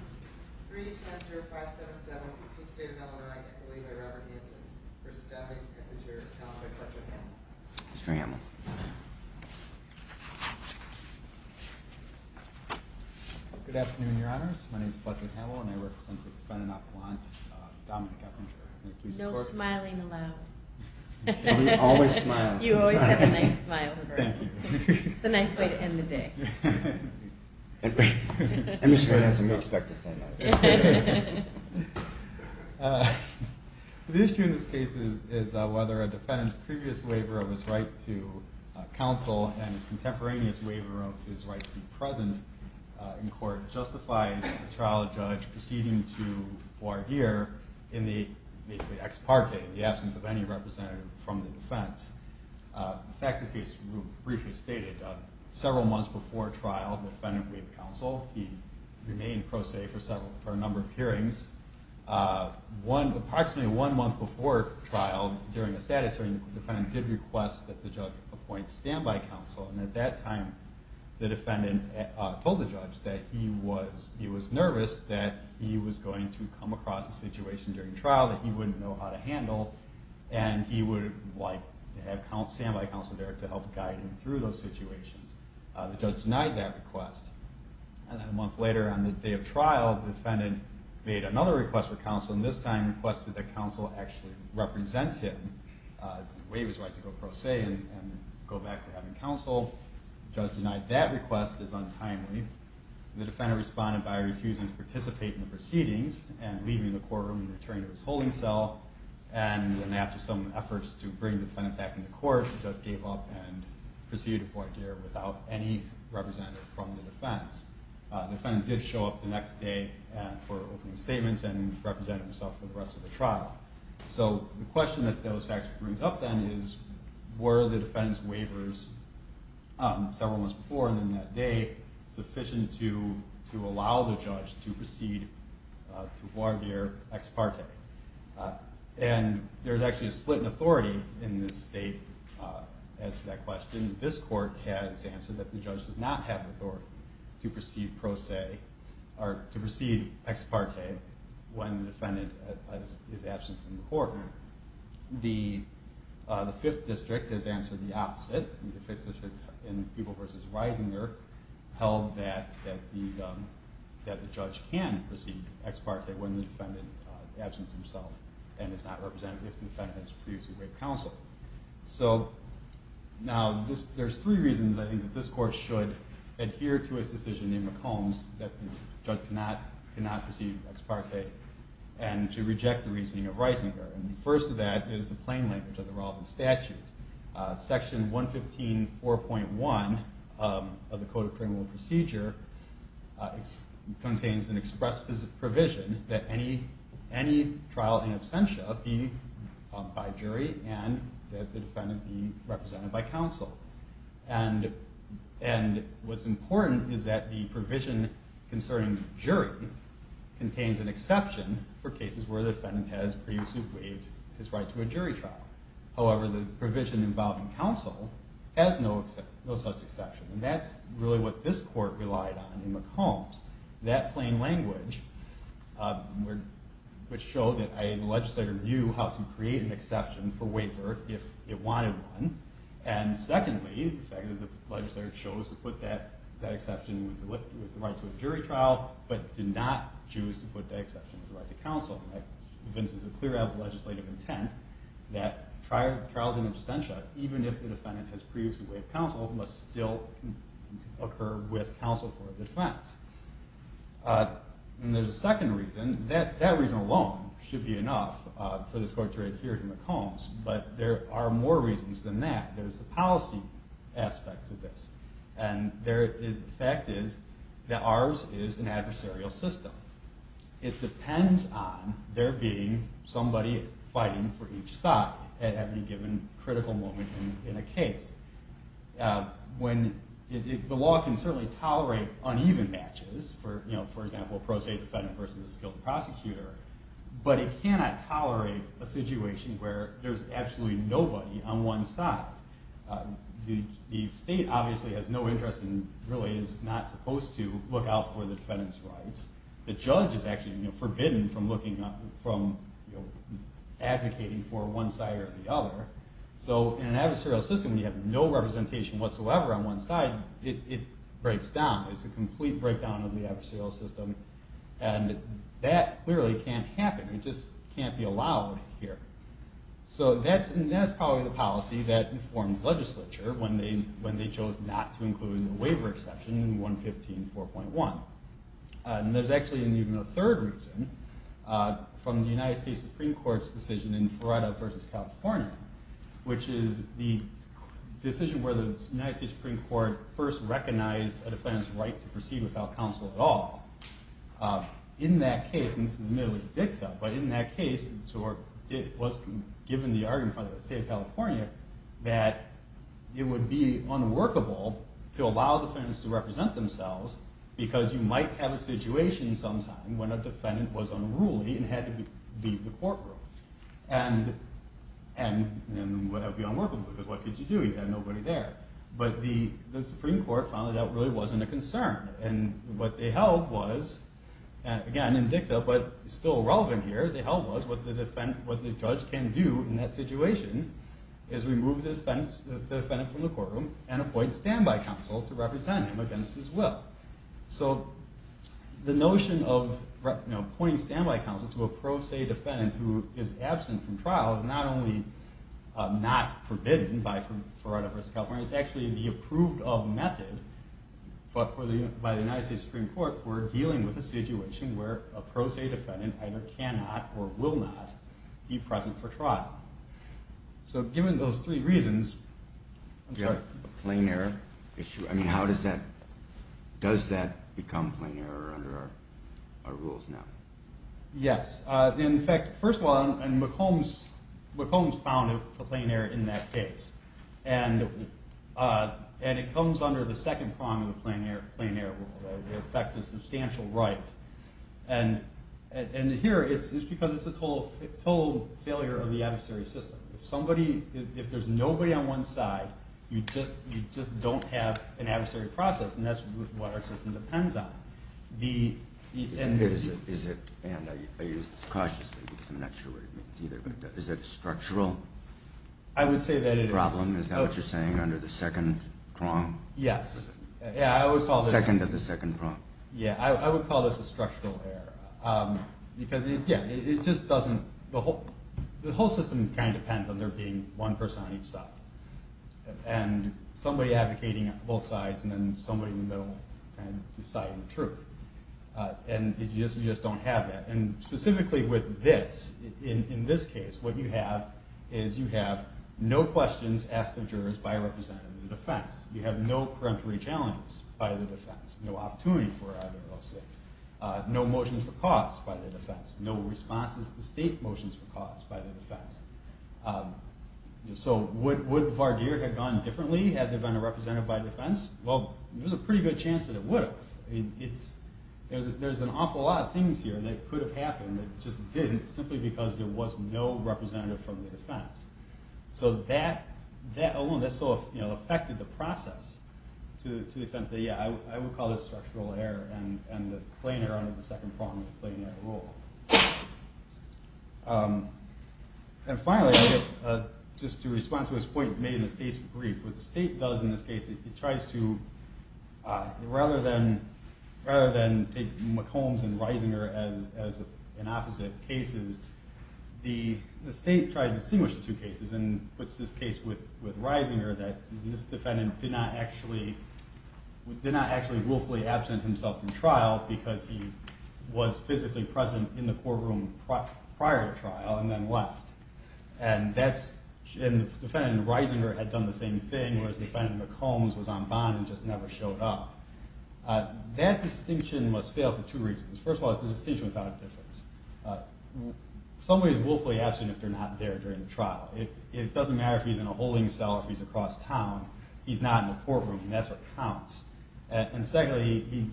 3-10-0-5-7-7. Please stand now and I equate you by Robert Hanson, v. Downing, Eppinger, Talented, Butler, and Hamill. Mr. Hamill. Good afternoon, Your Honors. My name is Butler Hamill, and I represent the Fen and Opelon Dominic Eppinger. No smiling allowed. You always smile. You always have a nice smile. Thank you. It's a nice way to end the day. And Mr. Hanson may expect the same out of you. The issue in this case is whether a defendant's previous waiver of his right to counsel and his contemporaneous waiver of his right to be present in court justifies a trial judge proceeding to voir dire in the basically ex parte, in the absence of any representative from the defense. In fact, in this case, we briefly stated several months before trial, the defendant waived counsel. He remained pro se for a number of hearings. Approximately one month before trial, during the status hearing, the defendant did request that the judge appoint standby counsel. And at that time, the defendant told the judge that he was nervous that he was going to come across a situation during trial that he wouldn't know how to handle, and he would like to have a standby counsel there to help guide him through those situations. The judge denied that request. And then a month later, on the day of trial, the defendant made another request for counsel, and this time requested that counsel actually represent him, waive his right to go pro se and go back to having counsel. The judge denied that request as untimely. The defendant responded by refusing to participate in the proceedings and leaving the courtroom and returning to his holding cell. And then after some efforts to bring the defendant back into court, the judge gave up and proceeded to voir dire without any representative from the defense. The defendant did show up the next day for opening statements and represented himself for the rest of the trial. So the question that those facts brings up then is, were the defendant's waivers several months before and then that day sufficient to allow the judge to proceed to voir dire ex parte? And there's actually a split in authority in this state as to that question. This court has answered that the judge does not have authority to proceed pro se or to proceed ex parte when the defendant is absent from the court. The Fifth District has answered the opposite. The Fifth District in Peeble v. Reisinger held that the judge can proceed ex parte when the defendant is absent himself and is not representative if the defendant has previously waived counsel. So now there's three reasons I think that this court should adhere to its decision in McCombs that the judge cannot proceed ex parte and to reject the reasoning of Reisinger. And the first of that is the plain language of the relevant statute. Section 115.4.1 of the Code of Criminal Procedure contains an express provision that any trial in absentia be by jury and that the defendant be represented by counsel. And what's important is that the provision concerning jury contains an exception for cases where the defendant has previously waived his right to a jury trial. However, the provision involving counsel has no such exception. And that's really what this court relied on in McCombs. That plain language would show that a legislator knew how to create an exception for waiver if it wanted one. And secondly, the fact that the legislator chose to put that exception with the right to a jury trial but did not choose to put that exception with the right to counsel convinces a clear legislative intent that trials in absentia, even if the defendant has previously waived counsel, must still occur with counsel for a defense. And there's a second reason. That reason alone should be enough for this court to adhere to McCombs. But there are more reasons than that. There's a policy aspect to this. And the fact is that ours is an adversarial system. It depends on there being somebody fighting for each side at any given critical moment in a case. The law can certainly tolerate uneven matches, for example, a pro se defendant versus a skilled prosecutor, but it cannot tolerate a situation where there's absolutely nobody on one side The state obviously has no interest and really is not supposed to look out for the defendant's rights. The judge is actually forbidden from advocating for one side or the other. So in an adversarial system, when you have no representation whatsoever on one side, it breaks down. It's a complete breakdown of the adversarial system. And that clearly can't happen. It can't be allowed here. So that's probably the policy that informs legislature when they chose not to include a waiver exception in 115.4.1. And there's actually even a third reason from the United States Supreme Court's decision in Feretta v. California, which is the decision where the United States Supreme Court first recognized a defendant's right to proceed without counsel at all. In that case, and this is admittedly the dicta, but in that case it was given the argument by the state of California that it would be unworkable to allow defendants to represent themselves because you might have a situation sometime when a defendant was unruly and had to leave the courtroom. And that would be unworkable because what could you do? You had nobody there. But the Supreme Court found that that really wasn't a concern. And what they held was, again in dicta but still relevant here, what they held was what the judge can do in that situation is remove the defendant from the courtroom and appoint standby counsel to represent him against his will. So the notion of appointing standby counsel to a pro se defendant who is absent from trial is not only not forbidden by Feretta v. California, it's actually the approved of method by the United States Supreme Court for dealing with a situation where a pro se defendant either cannot or will not be present for trial. So given those three reasons, I'm sorry. Do you have a plain error issue? I mean how does that, does that become plain error under our rules now? Yes. In fact, first of all, McCombs found a plain error in that case. And it comes under the second prong of the plain error rule. It affects a substantial right. And here it's because it's a total failure of the adversary system. If there's nobody on one side, you just don't have an adversary process and that's what our system depends on. Is it, and I use this cautiously because I'm not sure what it means either, but is it a structural problem, is that what you're saying, under the second prong? Yes. Yeah, I would call this the second prong. Yeah, I would call this a structural error because it just doesn't, the whole system kind of depends on there being one person on each side. And somebody advocating on both sides and then somebody in the middle kind of deciding the truth. And you just don't have that. And specifically with this, in this case, what you have is you have no questions asked of jurors by a representative of the defense. You have no peremptory challenge by the defense. No opportunity for either of those things. No motions for cause by the defense. No responses to state motions for cause by the defense. So would that have been represented by defense? Well, there's a pretty good chance that it would have. There's an awful lot of things here that could have happened that just didn't simply because there was no representative from the defense. So that alone, that sort of affected the process to the extent that yeah, I would call this structural error and the plain error under the second prong of the plain error rule. And finally, just to respond to his point made in the state's brief, what the state does in this case, it tries to, rather than take McCombs and Reisinger as an opposite cases, the state tries to distinguish the two cases and puts this case with Reisinger that this defendant did not actually, did not actually willfully absent himself from trial because he was physically present in the courtroom prior to trial and then left. And the defendant in Reisinger had done the same thing, whereas the defendant in McCombs was on bond and just never showed up. That distinction must fail for two reasons. First of all, it's a distinction without a difference. Somebody is willfully absent if they're not there during the trial. It doesn't matter if he's in a holding cell or if he's across town. He's not in the courtroom and that's what counts. And secondly,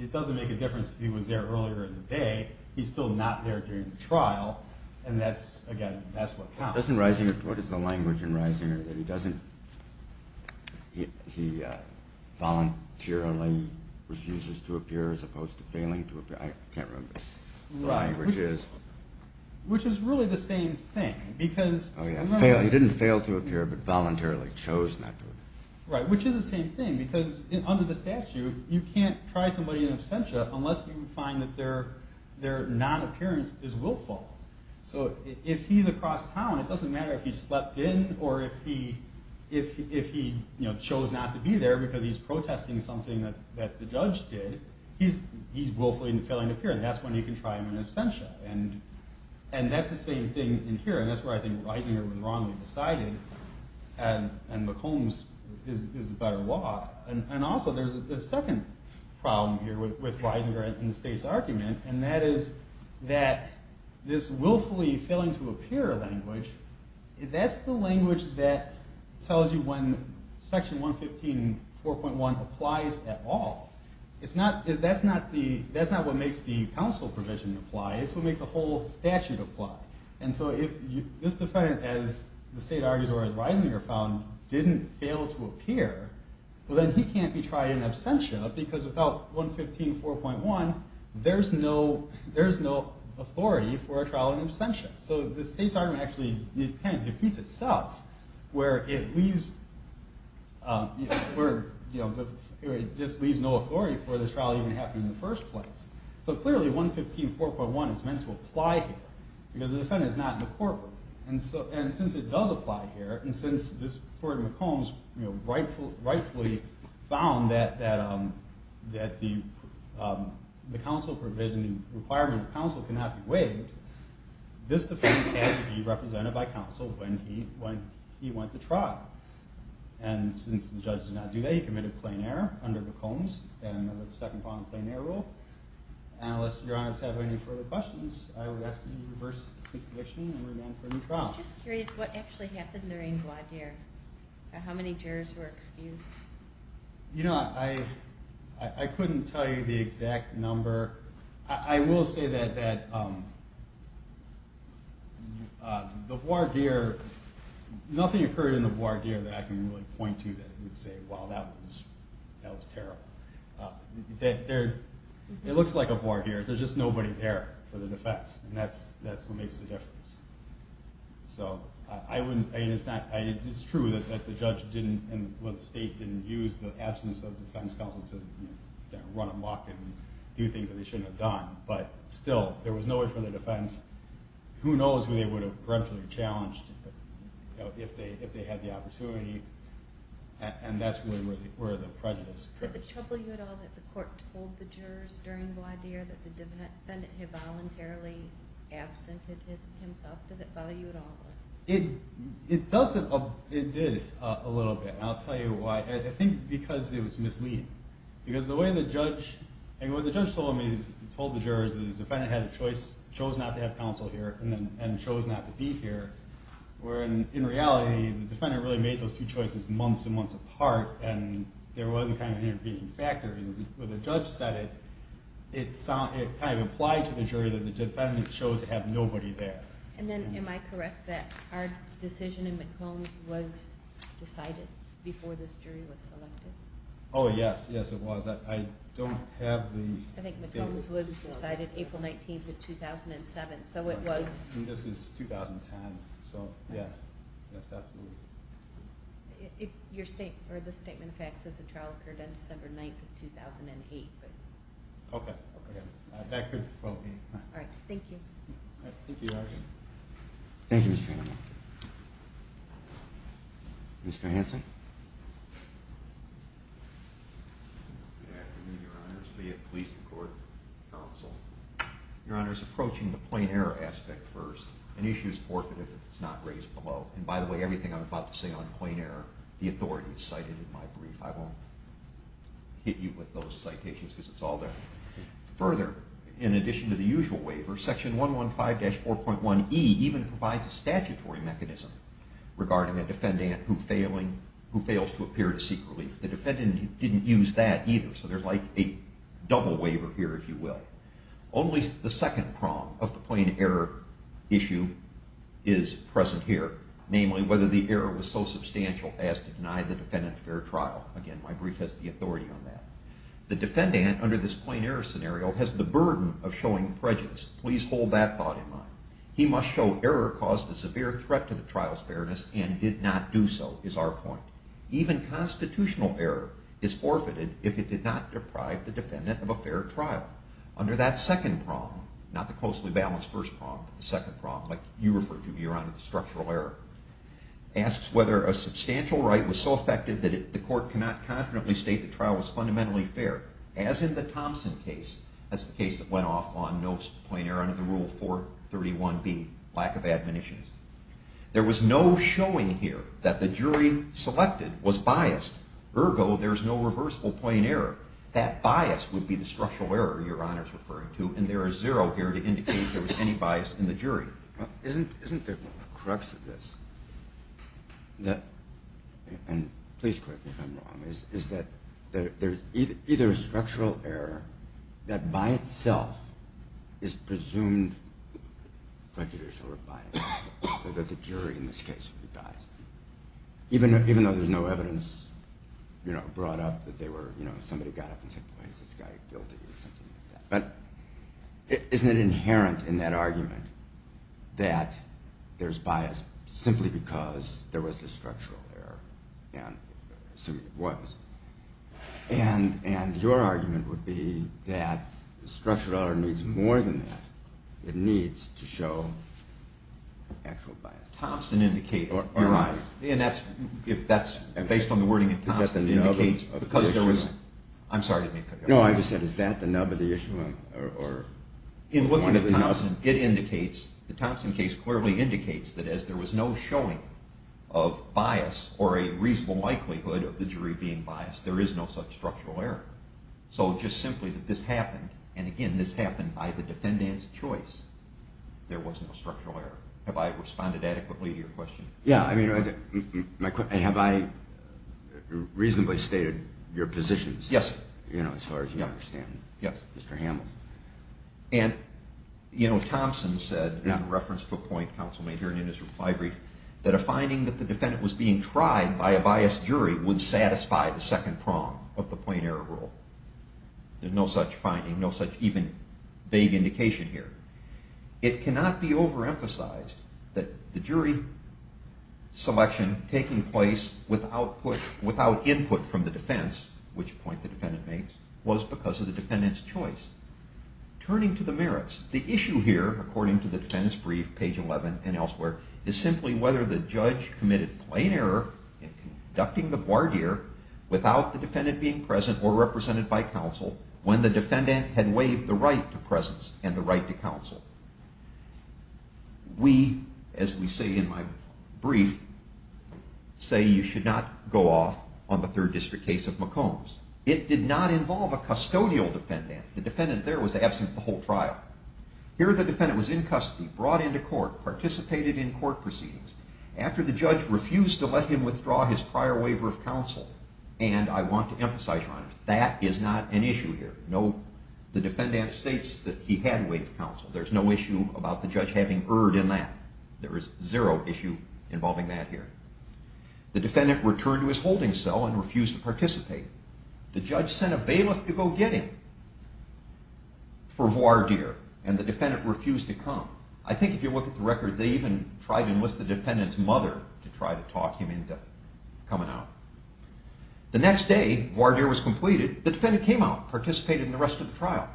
it doesn't make a difference if he was there earlier in the day. He's still not there during the trial and that's, again, that's what counts. Doesn't Reisinger, what is the language in Reisinger that he doesn't, he voluntarily refuses to appear as opposed to failing to appear? I can't remember what the language is. Right, which is really the same thing because. Oh yeah, he didn't fail to appear but voluntarily chose not to appear. Right, which is the same thing because under the statute, you can't try somebody in absentia unless you find that their non-appearance is willful. So if he's across town, it doesn't matter if he slept in or if he chose not to be there because he's protesting something that the judge did. He's willfully failing to appear and that's when you can try him in absentia. And that's the same thing in Reisinger and that's where I think Reisinger wrongly decided and McCombs is the better law. And also there's a second problem here with Reisinger and the state's argument and that is that this willfully failing to appear language, that's the language that tells you when section 115.4.1 applies at all. It's not, that's not what makes the difference. If this defendant, as the state argues or as Reisinger found, didn't fail to appear, well then he can't be tried in absentia because without 115.4.1, there's no authority for a trial in absentia. So the state's argument actually kind of defeats itself where it leaves, where it just leaves no authority for this trial even happening in the first place. So clearly 115.4.1 is meant to apply here because the defendant is not in the courtroom. And since it does apply here, and since this Court of McCombs rightfully found that the counsel provision, the requirement of counsel cannot be waived, this defendant has to be represented by counsel when he went to trial. And since the judge did not do that, he committed plain error under McCombs and the second bond plain error rule, and unless your honors have any further questions, I would ask that you reverse the prescription and remand for a new trial. I'm just curious what actually happened during voir dire, how many jurors were excused? You know, I couldn't tell you the exact number. I will say that the voir dire, nothing occurred in the voir dire that I can really point to that would say, wow, that was terrible. It looks like a voir dire, there's just nobody there for the defense, and that's what makes the difference. So it's true that the judge and the state didn't use the absence of defense counsel to run amok and do things that they shouldn't have done, but still, there was no way for the defense, who knows who they would have grudgingly challenged if they had the opportunity, and that's really where the prejudice comes from. Does it trouble you at all that the court told the jurors during voir dire that the defendant had voluntarily absented himself? Does it bother you at all? It does, it did a little bit, and I'll tell you why. I think because it was misleading. Because the way the judge, and what the judge told me, he told the jurors that the defendant had a choice, chose not to have counsel here, and chose not to be here, where in reality, the defendant really made those two choices months and months apart, and there was kind of an intervening factor, and when the judge said it, it kind of applied to the jury that the defendant chose to have nobody there. And then am I correct that our decision in McCombs was decided before this jury was selected? Oh yes, yes it was. I don't have the date. I think McCombs was decided April 19th of 2007, so it was... And this is 2010, so yeah. Your statement, or the statement of facts says the trial occurred on December 9th of 2008. Okay, that could well be. All right, thank you. Thank you, Your Honor. Thank you, Mr. Hanlon. Mr. Hanson. Good afternoon, Your Honors. Leah, Police and Court Counsel. Your Honor is approaching the plain error aspect first. An issue is forfeited if it's not raised below. And by the way, everything I'm about to say on plain error, the authority is cited in my brief. I won't hit you with those citations, because it's all there. Further, in addition to the usual waiver, Section 115-4.1e even provides a statutory mechanism regarding a defendant who fails to appear to seek relief. The defendant didn't use that either, so there's like a double waiver here, if you will. Only the second prong of the plain error issue is present here. Namely, whether the error was so substantial as to deny the defendant a fair trial. Again, my brief has the authority on that. The defendant, under this plain error scenario, has the burden of showing prejudice. Please hold that thought in mind. He must show error caused a severe threat to the trial's fairness and did not do so, is our point. Even constitutional error is forfeited if it did not deprive the defendant of a fair trial. Under that second prong, not the closely balanced first prong, but the second prong, like you referred to, Your Honor, the structural error, asks whether a substantial right was so effective that the court cannot confidently state the trial was fundamentally fair, as in the Thompson case. That's the case that went off on no plain error under the Rule 431b, lack of admonitions. There was no showing here that the jury selected was biased. Ergo, there's no reversible plain error. That bias would be the structural error Your Honor is referring to, and there is zero here to indicate there was any bias in the jury. Isn't the crux of this, and please correct me if I'm wrong, is that there's either a structural error that by itself is presumed prejudicial or biased, so that the jury in this case would be biased. Even though there's no evidence brought up that somebody got up and said, why is this guy guilty, or something like that. But isn't it inherent in that argument that there's bias simply because there was a structural error, and it was. And your argument would be that the structural error needs more than that. It needs to show actual bias. Your Honor, if that's based on the wording in Thompson, it indicates because there was, I'm sorry. No, I just said, is that the nub of the issue? In looking at Thompson, it indicates, the Thompson case clearly indicates that as there was no showing of bias or a reasonable likelihood of the jury being biased, there is no such structural error. So just simply that this happened, and again, this happened by the defendant's choice, there was no structural error. Have I responded adequately to your question? Yeah, I mean, have I reasonably stated your positions? Yes, sir. You know, as far as you understand. Yes. Mr. Hamels. And, you know, Thompson said, in reference to a point counsel made here in his reply brief, that a finding that the defendant was being tried by a biased jury would satisfy the second prong of the plain error rule. There's no such finding, no such even vague indication here. It cannot be overemphasized that the jury selection taking place without input from the defense, which point the defendant makes, was because of the defendant's choice. Turning to the merits, the issue here, according to the defense brief, page 11 and elsewhere, is simply whether the judge committed plain error in conducting the voir dire without the defendant being present or represented by counsel when the defendant had waived the right to presence and the right to counsel. We, as we say in my brief, say you should not go off on the Third District case of McCombs. It did not involve a custodial defendant. The defendant there was absent the whole trial. Here the defendant was in custody, brought into court, participated in court proceedings. After the judge refused to let him withdraw his prior waiver of counsel, and I want to emphasize, Your Honor, that is not an issue here. The defendant states that he had waived counsel. There's no issue about the judge having erred in that. There is zero issue involving that here. The defendant returned to his holding cell and refused to participate. The judge sent a bailiff to go get him for voir dire, and the defendant refused to come. I think if you look at the records, they even tried to enlist the defendant's mother to try to talk him into coming out. The next day, voir dire was completed. The defendant came out and participated in the rest of the trial.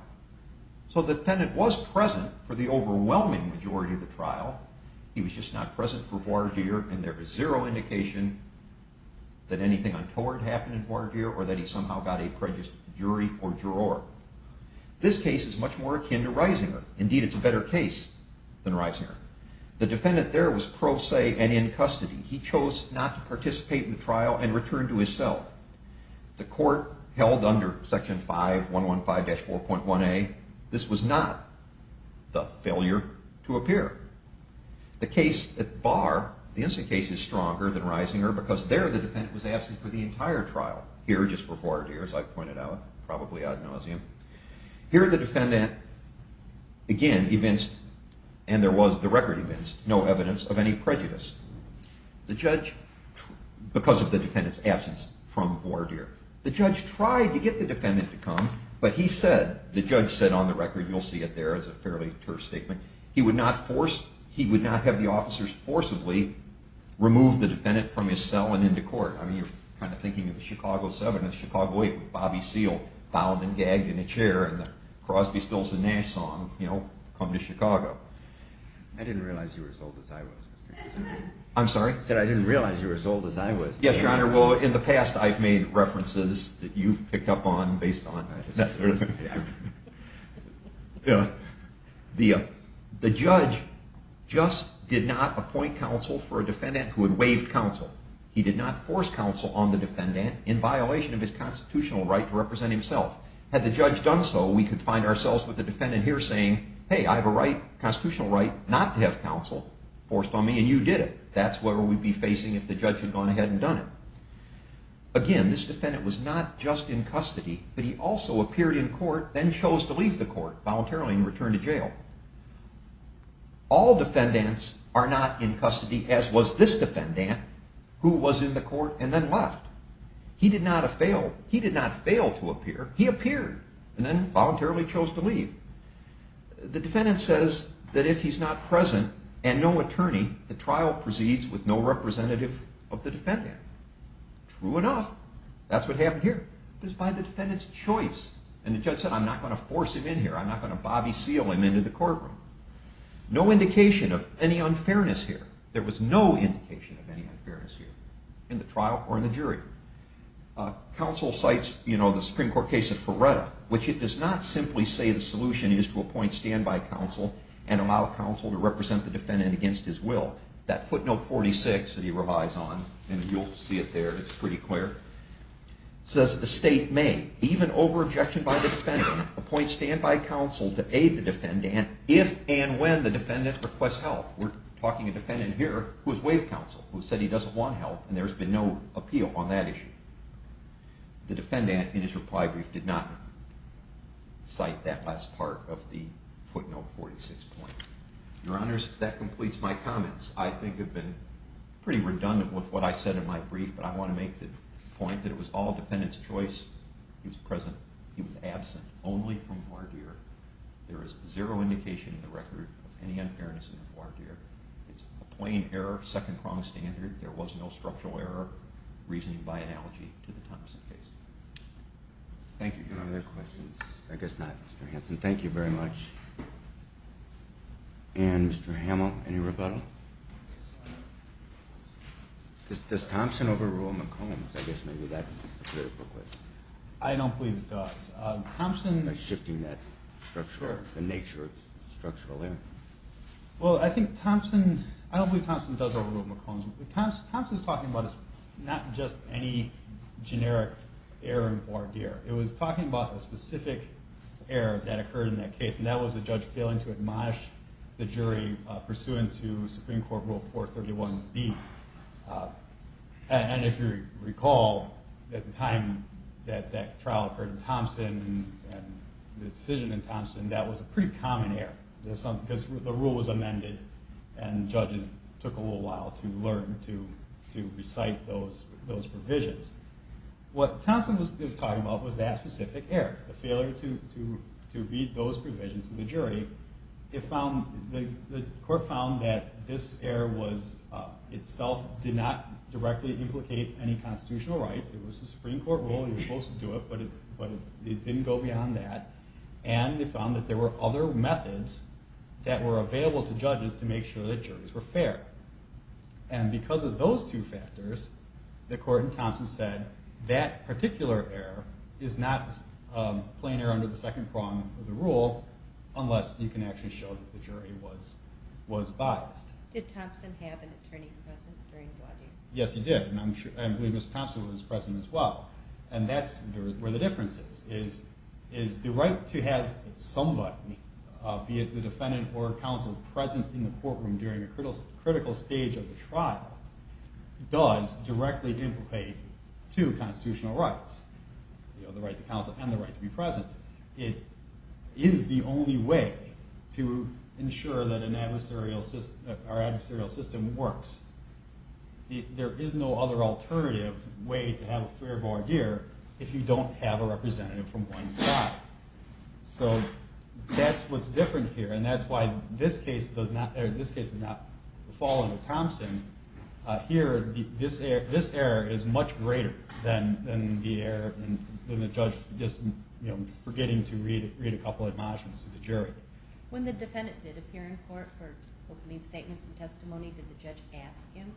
So the defendant was present for the overwhelming majority of the trial. He was just not present for voir dire, and there is zero indication that anything untoward happened in voir dire or that he somehow got a prejudiced jury or juror. This case is much more akin to Risinger. Indeed, it's a better case than Risinger. The defendant there was pro se and in custody. He chose not to participate in the trial and returned to his cell. The court held under Section 5.115-4.1a. This was not the failure to appear. The case at bar, the instant case, is stronger than Risinger because there the defendant was absent for the entire trial. Here, just for voir dire, as I've pointed out, probably ad nauseum. Here, the defendant, again, evinced, and there was the record evinced, no evidence of any prejudice because of the defendant's absence from voir dire. The judge tried to get the defendant to come, but he said, the judge said on the record, you'll see it there, it's a fairly terse statement, he would not have the officers forcibly remove the defendant from his cell and into court. I mean, you're kind of thinking of the Chicago 7 and the Chicago 8 with Bobby Seale bound and gagged in a chair and the Crosby, Stills, and Nash song, you know, Come to Chicago. I didn't realize you were as old as I was. I'm sorry? I said I didn't realize you were as old as I was. Yes, Your Honor, well, in the past I've made references that you've picked up on based on that sort of thing. The judge just did not appoint counsel for a defendant who had waived counsel. He did not force counsel on the defendant in violation of his constitutional right to represent himself. Had the judge done so, we could find ourselves with the defendant here saying, hey, I have a constitutional right not to have counsel forced on me, and you did it. That's what we'd be facing if the judge had gone ahead and done it. Again, this defendant was not just in custody, but he also appeared in court, All defendants are not in custody, as was this defendant, who was in the court and then left. He did not fail. He did not fail to appear. He appeared and then voluntarily chose to leave. The defendant says that if he's not present and no attorney, the trial proceeds with no representative of the defendant. True enough. That's what happened here. It was by the defendant's choice. And the judge said, I'm not going to force him in here. I'm not going to bobby seal him into the courtroom. No indication of any unfairness here. There was no indication of any unfairness here in the trial or in the jury. Counsel cites the Supreme Court case of Ferretta, which it does not simply say the solution is to appoint standby counsel and allow counsel to represent the defendant against his will. That footnote 46 that he relies on, and you'll see it there, it's pretty clear, says the state may, even over objection by the defendant, appoint standby counsel to aid the defendant if and when the defendant requests help. We're talking a defendant here who is waive counsel, who said he doesn't want help, and there's been no appeal on that issue. The defendant in his reply brief did not cite that last part of the footnote 46 point. Your Honors, that completes my comments. I think I've been pretty redundant with what I said in my brief, but I want to make the point that it was all defendant's choice. He was present. He was absent only from voir dire. There is zero indication in the record of any unfairness in the voir dire. It's a plain error, second-pronged standard. There was no structural error reasoning by analogy to the Thompson case. Thank you. Any other questions? I guess not, Mr. Hanson. Thank you very much. And Mr. Hamill, any rebuttal? Does Thompson overrule McCombs? I guess maybe that's a critical question. I don't believe it does. By shifting that structure, the nature of structural error? Well, I think Thompson, I don't believe Thompson does overrule McCombs. Thompson is talking about not just any generic error in voir dire. It was talking about the specific error that occurred in that case, and that was the judge failing to admonish the jury pursuant to Supreme Court Rule 431B. And if you recall, at the time that that trial occurred in Thompson and the decision in Thompson, that was a pretty common error because the rule was amended and judges took a little while to learn to recite those provisions. What Thompson was talking about was that specific error, the failure to read those provisions to the jury, the court found that this error itself did not directly implicate any constitutional rights. It was a Supreme Court rule. It was supposed to do it, but it didn't go beyond that. And they found that there were other methods that were available to judges to make sure that juries were fair. And because of those two factors, the court in Thompson said, that particular error is not plain error under the second prong of the rule unless you can actually show that the jury was biased. Did Thompson have an attorney present during voir dire? Yes, he did, and I believe Mr. Thompson was present as well. And that's where the difference is, is the right to have somebody, be it the defendant or counsel, present in the courtroom during a critical stage of the trial does directly implicate two constitutional rights, the right to counsel and the right to be present. It is the only way to ensure that our adversarial system works. There is no other alternative way to have a fair voir dire if you don't have a representative from one side. So that's what's different here, and that's why this case does not fall under Thompson. Here, this error is much greater than the judge just forgetting to read a couple of admonishments to the jury. When the defendant did appear in court for opening statements and testimony, did the judge ask him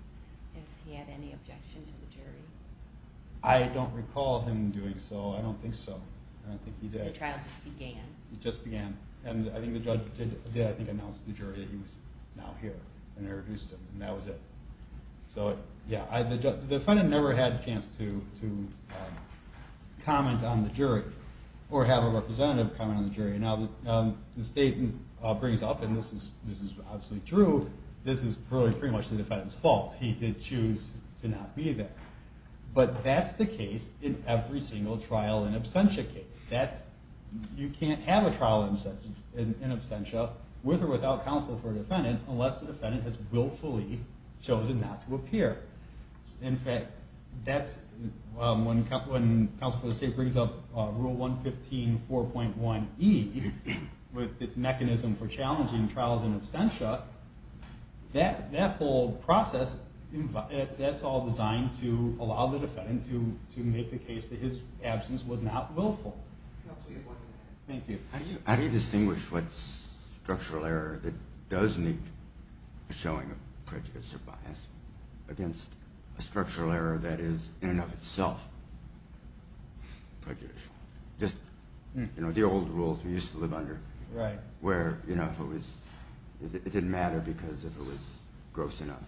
if he had any objection to the jury? I don't recall him doing so. I don't think so. I don't think he did. The trial just began. And I think the judge did announce to the jury that he was now here and introduced him, and that was it. So, yeah, the defendant never had a chance to comment on the jury or have a representative comment on the jury. Now, the statement brings up, and this is obviously true, this is pretty much the defendant's fault. He did choose to not be there. But that's the case in every single trial and absentia case. You can't have a trial in absentia with or without counsel for a defendant unless the defendant has willfully chosen not to appear. In fact, when counsel for the state brings up Rule 115.4.1e with its mechanism for challenging trials in absentia, that whole process, that's all designed to allow the defendant to make the case that his absence was not willful. Thank you. How do you distinguish what structural error that does need a showing of prejudice or bias against a structural error that is in and of itself prejudicial? Just the old rules we used to live under where it didn't matter because if it was gross enough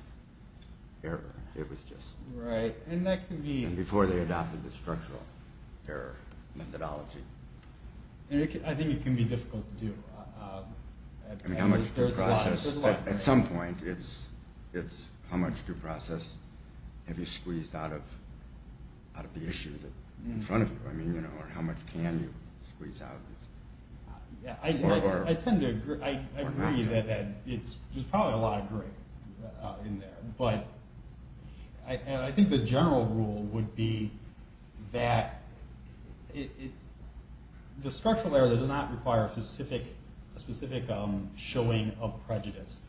error, it was just. Right. And that can be. And before they adopted the structural error methodology. I think it can be difficult to do. I mean, how much due process. At some point, it's how much due process have you squeezed out of the issue in front of you. I mean, you know, or how much can you squeeze out. I tend to agree. I agree that there's probably a lot of grit in there. But I think the general rule would be that the structural error does not require a specific showing of prejudice.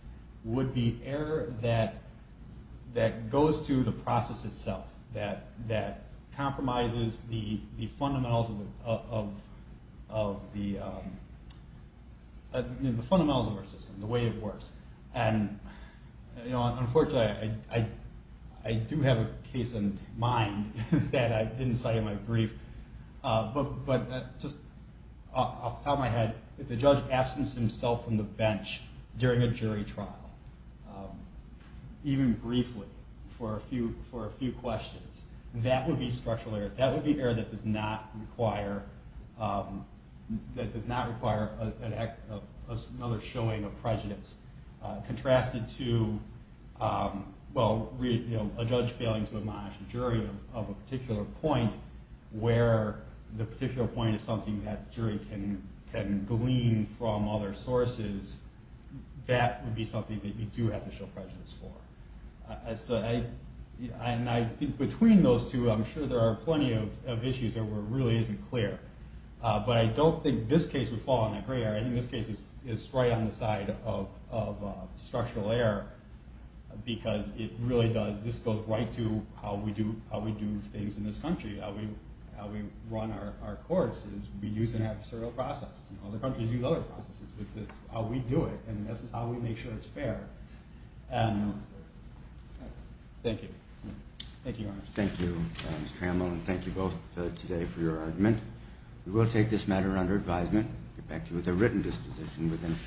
It would be error that goes to the process itself, that compromises the fundamentals of our system, the way it works. And, you know, unfortunately, I do have a case in mind that I didn't cite in my brief. But just off the top of my head, if the judge absenced himself from the bench during a jury trial, even briefly for a few questions, that would be structural error. Contrasted to, well, a judge failing to admonish a jury of a particular point, where the particular point is something that the jury can glean from other sources, that would be something that you do have to show prejudice for. And I think between those two, I'm sure there are plenty of issues that really isn't clear. But I don't think this case would fall in that gray area. I think this case is right on the side of structural error, because it really does, this goes right to how we do things in this country, how we run our courts, is we use an adversarial process. Other countries use other processes, but this is how we do it, and this is how we make sure it's fair. Thank you. Thank you, Mr. Trammell, and thank you both today for your argument. We will take this matter under advisement. We'll get back to you with a written disposition within shortly.